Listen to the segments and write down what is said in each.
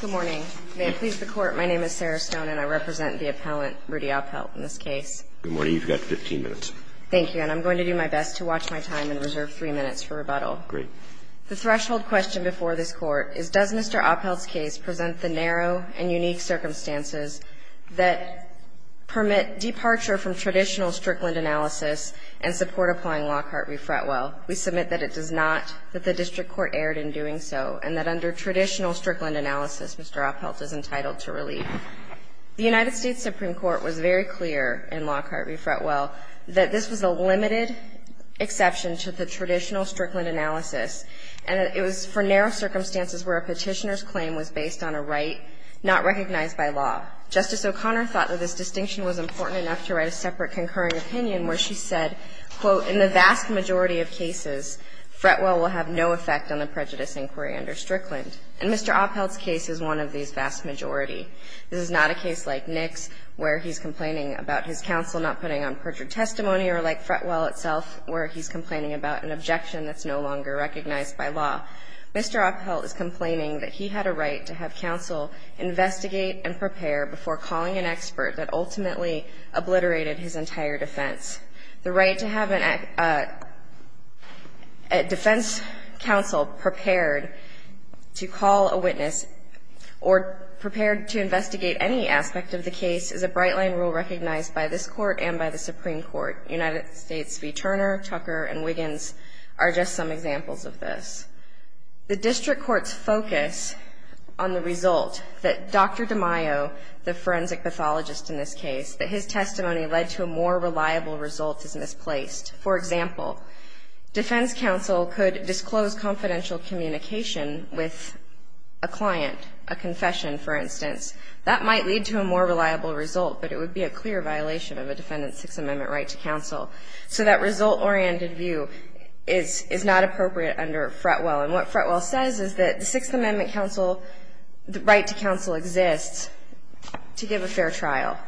Good morning. May it please the Court, my name is Sarah Stone, and I represent the appellant, Rudy Apelt, in this case. Good morning. You've got 15 minutes. Thank you. And I'm going to do my best to watch my time and reserve three minutes for rebuttal. Great. The threshold question before this Court is, does Mr. Apelt's case present the narrow and unique circumstances that permit departure from traditional Strickland analysis and support applying Lockhart v. Fretwell? We submit that it does not, that the district court erred in doing so, and that under traditional Strickland analysis, Mr. Apelt is entitled to relief. The United States Supreme Court was very clear in Lockhart v. Fretwell that this was a limited exception to the traditional Strickland analysis, and that it was for narrow circumstances where a petitioner's claim was based on a right not recognized by law. Justice O'Connor thought that this distinction was important enough to write a separate concurring opinion where she said, quote, in the vast majority of cases, Fretwell will have no effect on the prejudice inquiry under Strickland. And Mr. Apelt's case is one of these vast majority. This is not a case like Nick's, where he's complaining about his counsel not putting on perjured testimony, or like Fretwell itself, where he's complaining about an objection that's no longer recognized by law. Mr. Apelt is complaining that he had a right to have counsel investigate and prepare before calling an expert that ultimately obliterated his entire defense. The right to have a defense counsel prepared to call a witness or prepared to investigate any aspect of the case is a bright-line rule recognized by this Court and by the Supreme Court. United States v. Turner, Tucker, and Wiggins are just some examples of this. The district court's focus on the result that Dr. DeMaio, the forensic pathologist in this case, that his testimony led to a more reliable result is misplaced. For example, defense counsel could disclose confidential communication with a client, a confession, for instance. That might lead to a more reliable result, but it would be a clear violation of a defendant's Sixth Amendment right to counsel. So that result-oriented view is not appropriate under Fretwell. And what Fretwell says is that the Sixth Amendment counsel, the right to counsel exists to give a fair trial.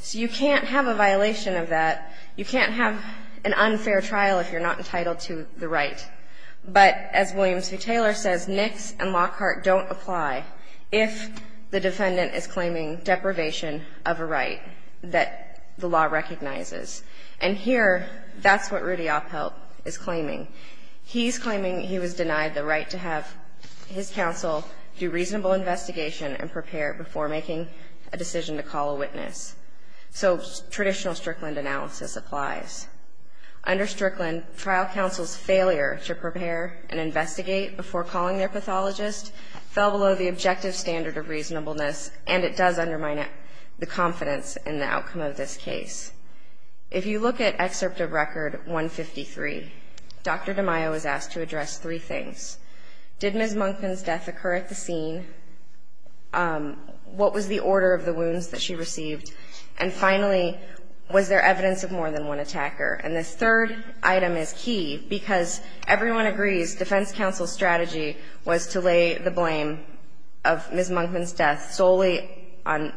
So you can't have a violation of that. You can't have an unfair trial if you're not entitled to the right. But as Williams v. Taylor says, Nix and Lockhart don't apply if the defendant is claiming deprivation of a right that the law recognizes. And here, that's what Rudy Oppelt is claiming. He's claiming he was denied the right to have his counsel do reasonable investigation and prepare before making a decision to call a witness. So traditional Strickland analysis applies. Under Strickland, trial counsel's failure to prepare and investigate before calling their pathologist fell below the objective standard of reasonableness, and it does undermine the confidence in the outcome of this case. If you look at excerpt of record 153, Dr. DeMaio was asked to address three things. Did Ms. Monkman's death occur at the scene? What was the order of the wounds that she received? And finally, was there evidence of more than one attacker? And this third item is key because everyone agrees defense counsel's strategy was to lay the blame of Ms. Monkman's death solely on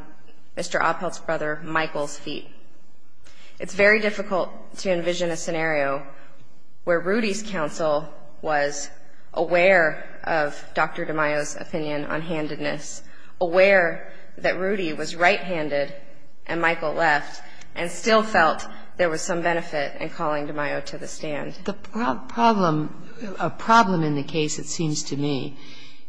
Mr. Oppelt's brother Michael's feet. It's very difficult to envision a scenario where Rudy's counsel was aware of Dr. DeMaio's opinion on handedness, aware that Rudy was right-handed and Michael left, and still felt there was some benefit in calling DeMaio to the stand. The problem, a problem in the case, it seems to me,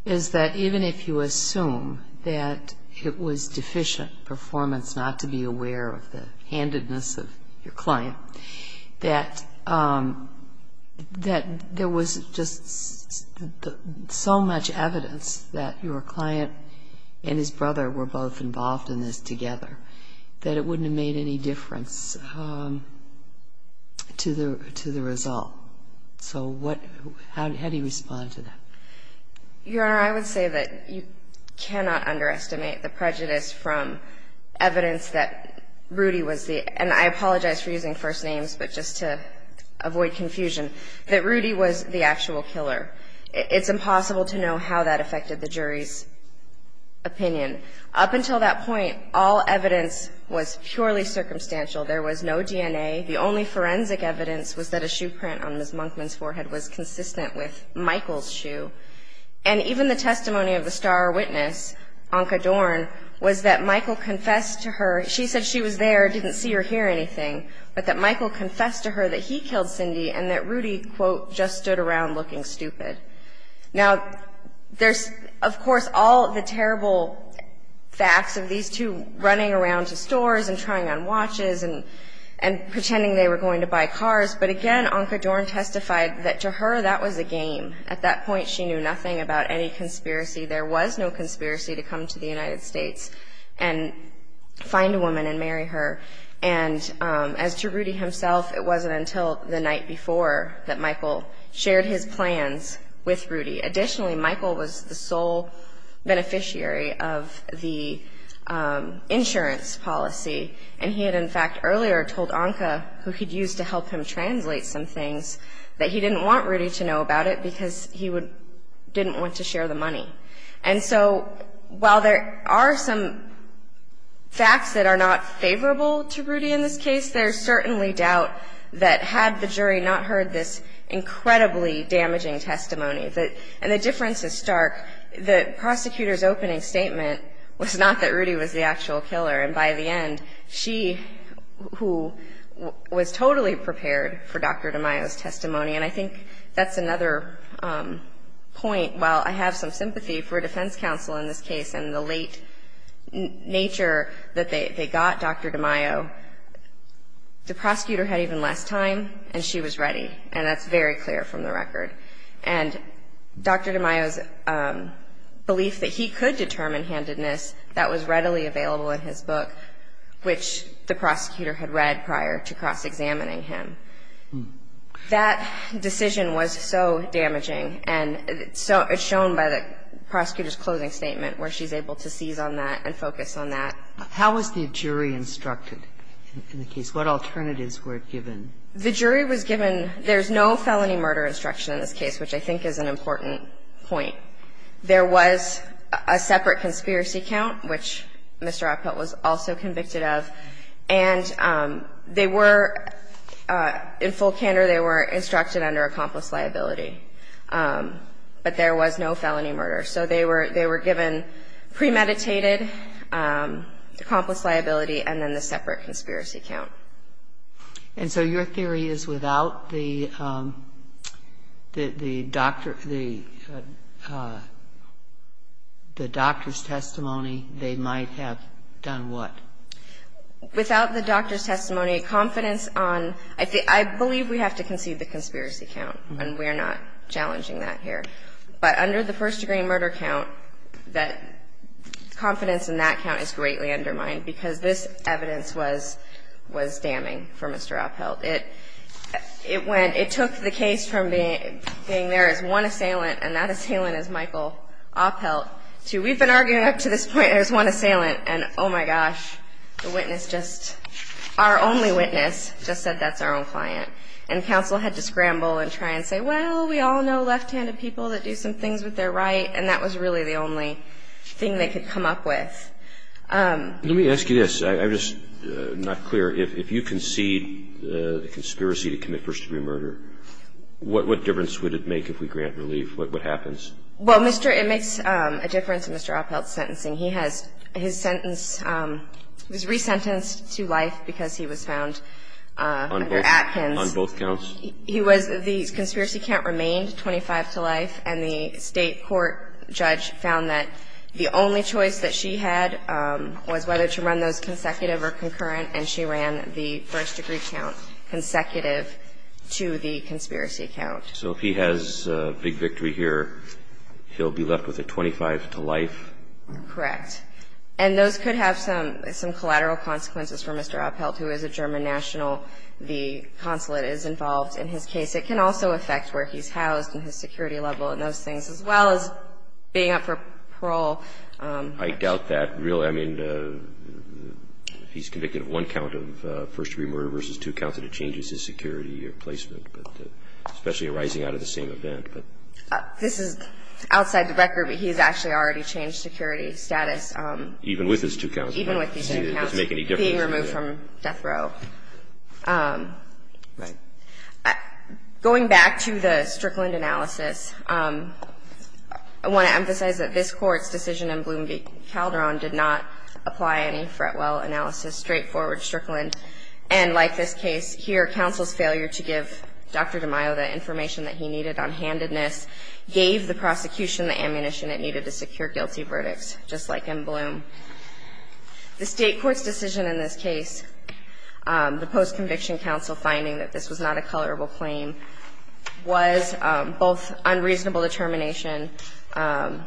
is that even if you assume that it was deficient performance, not to be aware of the handedness of your client, that there was just so much evidence that your client and his brother were both involved in this together, that it wouldn't have made any difference to the result. So how do you respond to that? Your Honor, I would say that you cannot underestimate the prejudice from evidence that Rudy was the, and I apologize for using first names, but just to avoid confusion, that Rudy was the actual killer. It's impossible to know how that affected the jury's opinion. Up until that point, all evidence was purely circumstantial. There was no DNA. The only forensic evidence was that a shoe print on Ms. Monkman's forehead was consistent with Michael's shoe. And even the testimony of the star witness, Anca Dorn, was that Michael confessed to her, she said she was there, didn't see or hear anything, but that Michael confessed to her that he killed Cindy and that Rudy, quote, just stood around looking stupid. Now, there's, of course, all the terrible facts of these two running around to stores and trying on watches and pretending they were going to buy cars. But again, Anca Dorn testified that to her, that was a game. At that point, she knew nothing about any conspiracy. There was no conspiracy to come to the United States and find a woman and marry her. And as to Rudy himself, it wasn't until the night before that Michael shared his plans with Rudy. Additionally, Michael was the sole beneficiary of the insurance policy. And he had, in fact, earlier told Anca, who he'd used to help him translate some things, that he didn't want Rudy to know about it because he didn't want to share the money. And so while there are some facts that are not favorable to Rudy in this case, there's certainly doubt that had the jury not heard this incredibly damaging testimony, and the difference is stark, the prosecutor's opening statement was not that Rudy was the actual killer. And by the end, she, who was totally prepared for Dr. DeMaio's testimony, and I think that's another point, while I have some sympathy for a defense counsel in this case and the late nature that they got Dr. DeMaio. The prosecutor had even less time and she was ready, and that's very clear from the record. And Dr. DeMaio's belief that he could determine handedness, that was readily available in his book, which the prosecutor had read prior to cross-examining him. That decision was so damaging, and it's shown by the prosecutor's closing statement, where she's able to seize on that and focus on that. How was the jury instructed in the case? What alternatives were given? The jury was given, there's no felony murder instruction in this case, which I think is an important point. There was a separate conspiracy count, which Mr. Appelt was also convicted of. And they were, in full candor, they were instructed under accomplice liability. But there was no felony murder. So they were given premeditated accomplice liability and then the separate conspiracy count. And so your theory is without the doctor's testimony, they might have done what? Without the doctor's testimony, confidence on, I believe we have to concede the conspiracy count. And we're not challenging that here. But under the first degree murder count, that confidence in that count is greatly undermined, because this evidence was damning for Mr. Appelt. It went, it took the case from being there as one assailant, and that assailant is Michael Appelt, to we've been arguing up to this point, there's one assailant, and oh my gosh, the witness just, our only witness just said that's our own client. And counsel had to scramble and try and say, well, we all know left-handed people that do some things with their right. And that was really the only thing they could come up with. Let me ask you this. I'm just not clear. If you concede the conspiracy to commit first degree murder, what difference would it make if we grant relief? What happens? Well, it makes a difference in Mr. Appelt's sentencing. He has his sentence, he was resentenced to life because he was found under Atkins. On both counts? He was, the conspiracy count remained 25 to life, and the state court judge found that the only choice that she had was whether to run those consecutive or concurrent, and she ran the first degree count consecutive to the conspiracy count. So if he has a big victory here, he'll be left with a 25 to life? Correct. And those could have some collateral consequences for Mr. Appelt, who is a German national. The consulate is involved in his case. It can also affect where he's housed and his security level and those things, as well as being up for parole. I doubt that. Really, I mean, he's convicted of one count of first degree murder versus two counts, and it changes his security or placement, but especially arising out of the same event. This is outside the record, but he's actually already changed security status. Even with his two counts? Even with his two counts. Does it make any difference? Being removed from death row. Going back to the Strickland analysis, I want to emphasize that this Court's decision in Bloom v. Calderon did not apply any Fretwell analysis, straightforward Strickland, and like this case here, counsel's failure to give Dr. DeMaio the information that he needed on handedness gave the prosecution the ammunition it needed to secure guilty verdicts, just like in Bloom. The State Court's decision in this case, the post-conviction counsel finding that this was not a colorable claim, was both unreasonable determination of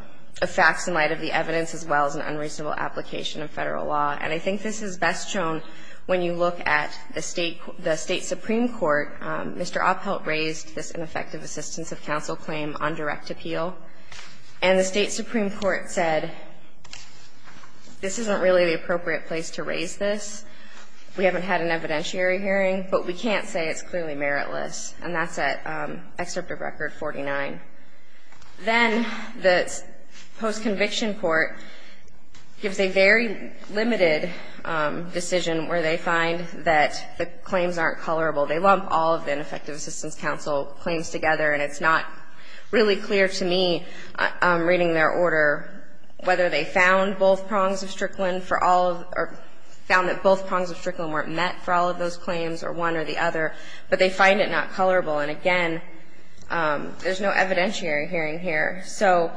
facts in light of the evidence, as well as an unreasonable application of federal law, and I think this is best shown when you look at the State Supreme Court, Mr. Oppelt raised this ineffective assistance of counsel claim on direct appeal, and the State Supreme Court said, this isn't really the appropriate place to raise this, we haven't had an evidentiary hearing, but we can't say it's clearly meritless, and that's at excerpt of record 49. Then the post-conviction court gives a very limited decision where they find that the claims aren't colorable. They lump all of the ineffective assistance counsel claims together, and it's not really clear to me, reading their order, whether they found both prongs of Strickland for all of, or found that both prongs of Strickland weren't met for all of those claims, or one or the other, but they find it not colorable, and again, there's no evidentiary hearing here. So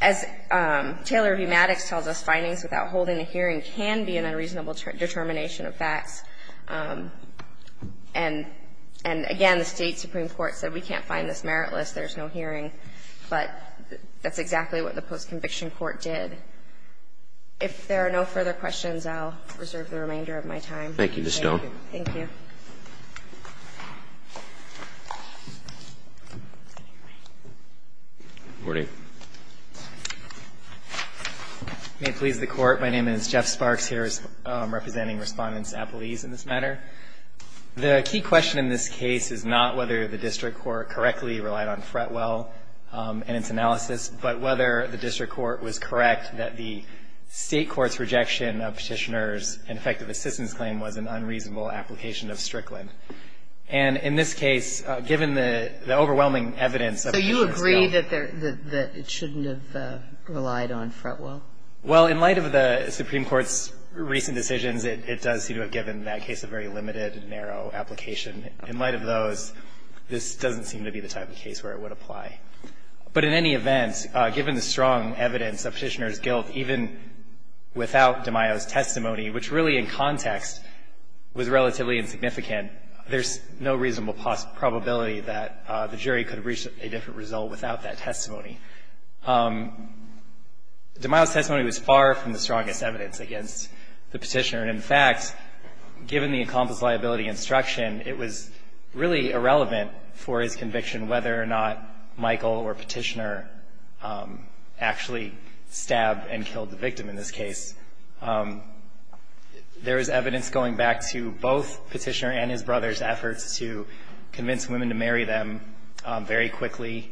as Taylor v. Maddox tells us, findings without holding a hearing can be an unreasonable determination of facts. And again, the State Supreme Court said we can't find this meritless, there's no hearing, but that's exactly what the post-conviction court did. If there are no further questions, I'll reserve the remainder of my time. Roberts. Thank you. Ms. Stone. Thank you. Good morning. May it please the Court. My name is Jeff Sparks here, representing Respondents Appelese in this matter. The key question in this case is not whether the district court correctly relied on Fretwell in its analysis, but whether the district court was correct that the State of assistance claim was an unreasonable application of Strickland. And in this case, given the overwhelming evidence of the petitioner's guilt. So you agree that it shouldn't have relied on Fretwell? Well, in light of the Supreme Court's recent decisions, it does seem to have given that case a very limited and narrow application. In light of those, this doesn't seem to be the type of case where it would apply. But in any event, given the strong evidence of petitioner's guilt, even without DeMaio's testimony, which really in context was relatively insignificant, there's no reasonable possibility that the jury could have reached a different result without that testimony. DeMaio's testimony was far from the strongest evidence against the petitioner. And in fact, given the accomplice liability instruction, it was really irrelevant for his conviction whether or not Michael or petitioner actually stabbed and killed the victim in this case. There is evidence going back to both Petitioner and his brother's efforts to convince women to marry them very quickly.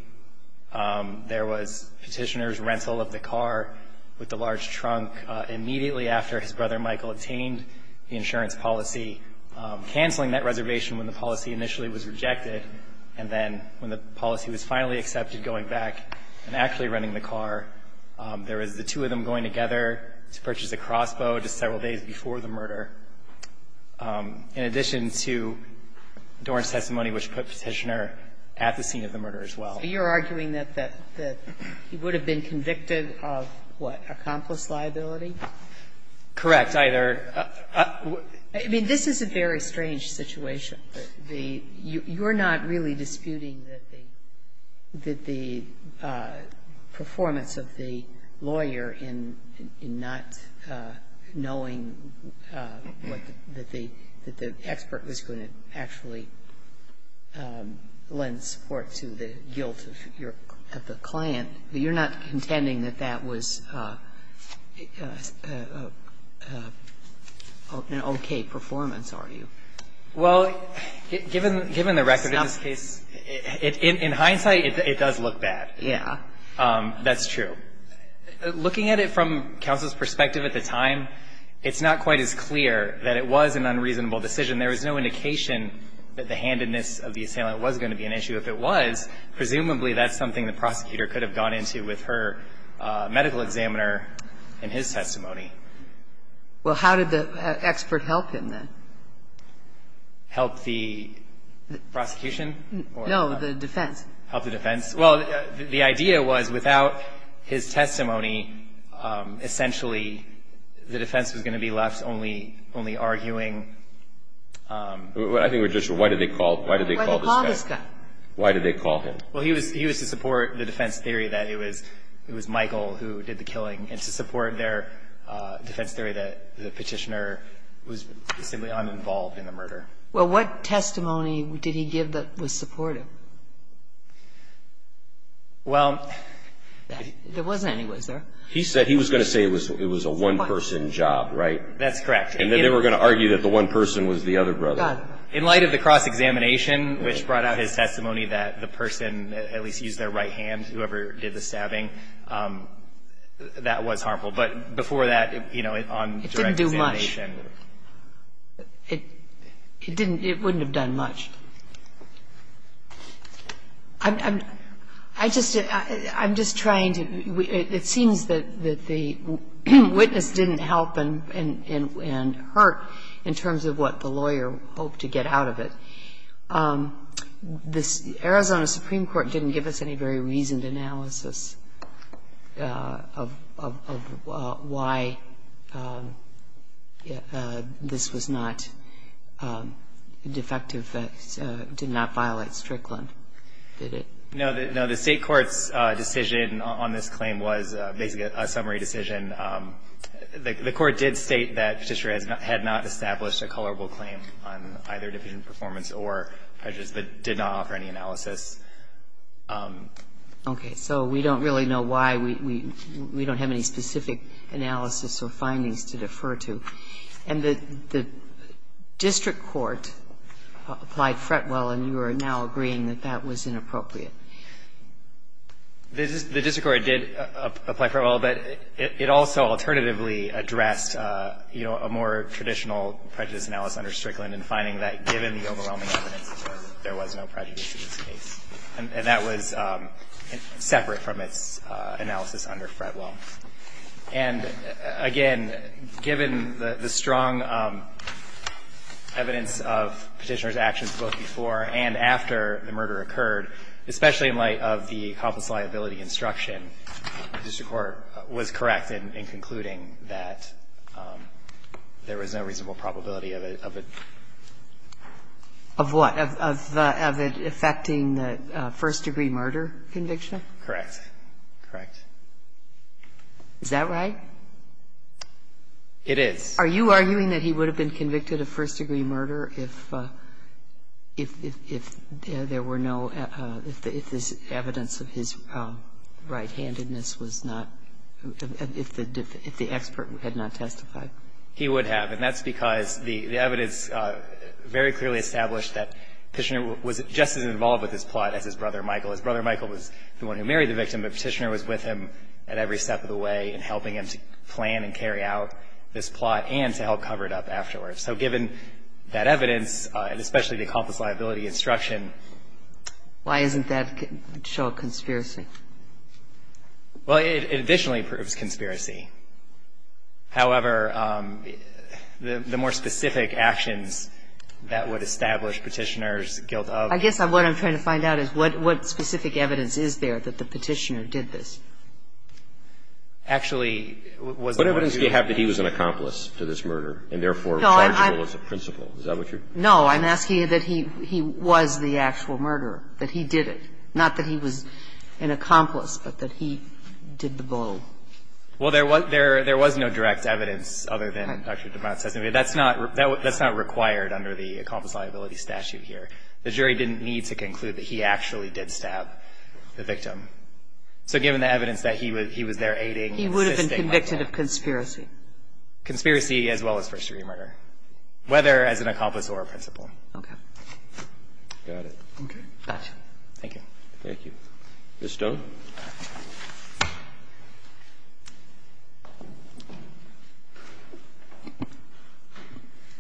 There was Petitioner's rental of the car with the large trunk immediately after his brother Michael obtained the insurance policy, canceling that reservation when the policy initially was rejected, and then when the policy was finally accepted going back and actually renting the car. There is the two of them going together to purchase a crossbow just several days before the murder. In addition to Doran's testimony, which put Petitioner at the scene of the murder as well. Sotomayor, you're arguing that he would have been convicted of, what, accomplice liability? Correct. I mean, this is a very strange situation. You're not really disputing that the performance of the lawyer in not knowing what the expert was going to actually lend support to the guilt of the client. You're not contending that that was an okay performance, are you? Well, given the record of this case, in hindsight, it does look bad. Yeah. That's true. Looking at it from counsel's perspective at the time, it's not quite as clear that it was an unreasonable decision. There was no indication that the handedness of the assailant was going to be an issue. If it was, presumably that's something the prosecutor could have gone into with her medical examiner in his testimony. Well, how did the expert help him, then? Help the prosecution? No, the defense. Help the defense? Well, the idea was without his testimony, essentially the defense was going to be left only arguing. I think we're just, why did they call this guy? Why did they call him? Well, he was to support the defense theory that it was Michael who did the killing and to support their defense theory that the petitioner was simply uninvolved in the murder. Well, what testimony did he give that was supportive? Well, there wasn't any, was there? He said he was going to say it was a one-person job, right? That's correct. And then they were going to argue that the one person was the other brother. In light of the cross-examination, which brought out his testimony that the person at least used their right hand, whoever did the stabbing, that was harmful. But before that, you know, on direct examination It didn't do much. It didn't, it wouldn't have done much. I'm just trying to, it seems that the witness didn't help and hurt in terms of what the lawyer hoped to get out of it. The Arizona Supreme Court didn't give us any very reasoned analysis of why this was not defective, that it did not violate Strickland, did it? No, the State Court's decision on this claim was basically a summary decision. The Court did state that Petitioner had not established a colorable claim on either deficient performance or prejudice, but did not offer any analysis. Okay. So we don't really know why. We don't have any specific analysis or findings to defer to. And the district court applied Fretwell, and you are now agreeing that that was inappropriate. The district court did apply Fretwell, but it also alternatively addressed, you know, a more traditional prejudice analysis under Strickland in finding that given the overwhelming evidence, there was no prejudice in this case. And that was separate from its analysis under Fretwell. And again, given the strong evidence of Petitioner's actions both before and after the murder occurred, especially in light of the accomplice liability instruction, the district court was correct in concluding that there was no reasonable probability of a of a of what, of it affecting the first-degree murder conviction? Correct. Correct. Is that right? It is. Are you arguing that he would have been convicted of first-degree murder if there were no, if the evidence of his right-handedness was not, if the expert had not testified? He would have. And that's because the evidence very clearly established that Petitioner was just as involved with this plot as his brother Michael. His brother Michael was the one who married the victim, but Petitioner was with him at every step of the way in helping him to plan and carry out this plot and to help cover it up afterwards. So given that evidence, and especially the accomplice liability instruction Why isn't that a show of conspiracy? Well, it additionally proves conspiracy. However, the more specific actions that would establish Petitioner's guilt of I guess what I'm trying to find out is what specific evidence is there that the Petitioner did this? Actually, was it more specific? What evidence do you have that he was an accomplice to this murder and therefore was chargable as a principal? Is that what you're saying? No, I'm asking that he was the actual murderer, that he did it. Not that he was an accomplice, but that he did the blow. Well, there was no direct evidence other than Dr. DeMont's testimony. That's not required under the accomplice liability statute here. The jury didn't need to conclude that he actually did stab the victim. So given the evidence that he was there aiding and assisting. He would have been convicted of conspiracy. Conspiracy as well as first-degree murder, whether as an accomplice or a principal. Okay. Got it. Okay. Got you. Thank you. Thank you. Ms. Stone.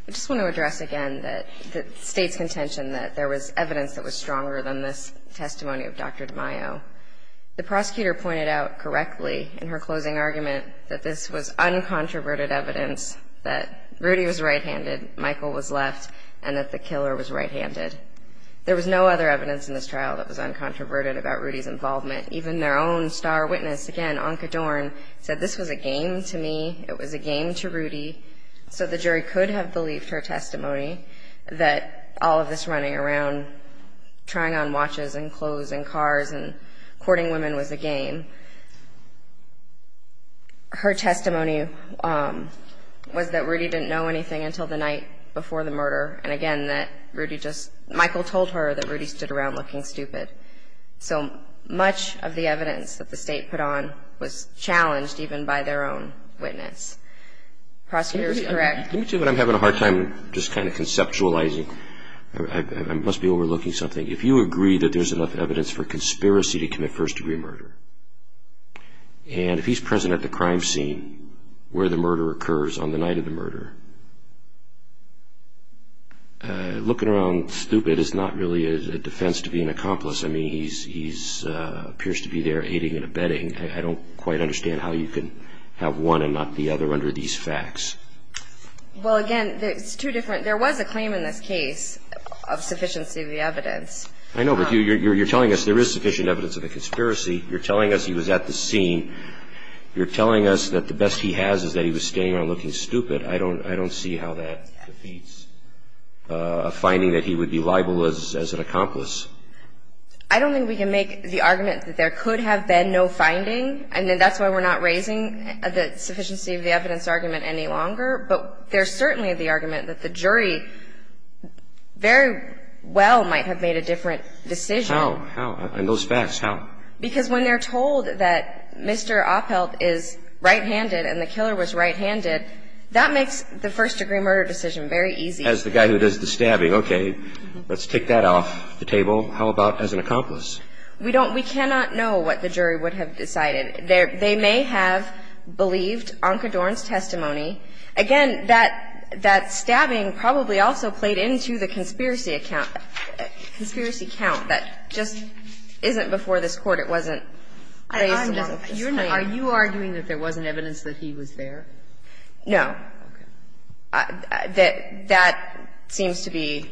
I just want to address again that the State's contention that there was evidence that was stronger than this testimony of Dr. DeMaio. The prosecutor pointed out correctly in her closing argument that this was uncontroverted evidence that Rudy was right-handed, Michael was left, and that the killer was right-handed. There was no other evidence in this trial that was uncontroverted about Rudy's involvement. Even their own star witness, again, Anca Dorn, said this was a game to me. It was a game to Rudy. So the jury could have believed her testimony that all of this running around, trying on watches and clothes and cars and courting women was a game. Her testimony was that Rudy didn't know anything until the night before the murder. And again, that Rudy just, Michael told her that Rudy stood around looking stupid. So much of the evidence that the State put on was challenged even by their own witness. Prosecutor, correct? Let me tell you what I'm having a hard time just kind of conceptualizing. I must be overlooking something. If you agree that there's enough evidence for conspiracy to commit first degree murder, and if he's present at the crime scene where the murder occurs on the night of the murder, looking around stupid is not really a defense to be an accomplice. I mean, he appears to be there aiding and abetting. I don't quite understand how you can have one and not the other under these facts. Well, again, it's two different, there was a claim in this case of sufficiency of the evidence. I know, but you're telling us there is sufficient evidence of a conspiracy. You're telling us he was at the scene. You're telling us that the best he has is that he was standing around looking stupid. I don't see how that defeats a finding that he would be liable as an accomplice. I don't think we can make the argument that there could have been no finding, and that's why we're not raising the sufficiency of the evidence argument any longer. But there's certainly the argument that the jury very well might have made a different decision. How? How? In those facts, how? Because when they're told that Mr. Oppelt is right-handed and the killer was right-handed, that makes the first degree murder decision very easy. As the guy who does the stabbing. Okay. Let's take that off the table. How about as an accomplice? We don't we cannot know what the jury would have decided. They may have believed Onkredorn's testimony. Again, that stabbing probably also played into the conspiracy account, conspiracy count that just isn't before this Court. It wasn't raised. Are you arguing that there wasn't evidence that he was there? No. That seems to be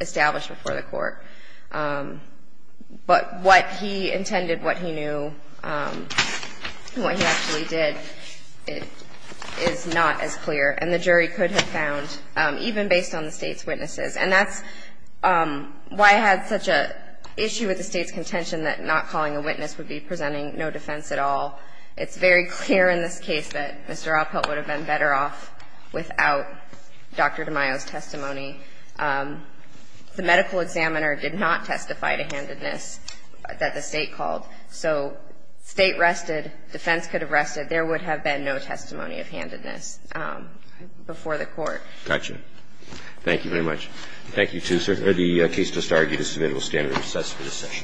established before the Court. But what he intended, what he knew, what he actually did, is not as clear, and the jury could have found, even based on the State's witnesses, and that's why I had such an issue with the State's contention that not calling a witness would be presenting no defense at all. It's very clear in this case that Mr. Alpelt would have been better off without Dr. DeMaio's testimony. The medical examiner did not testify to handedness that the State called. So State rested, defense could have rested. There would have been no testimony of handedness before the Court. Got you. Thank you very much. Thank you, too, sir. The case just argued is submittable standard of assess for this session.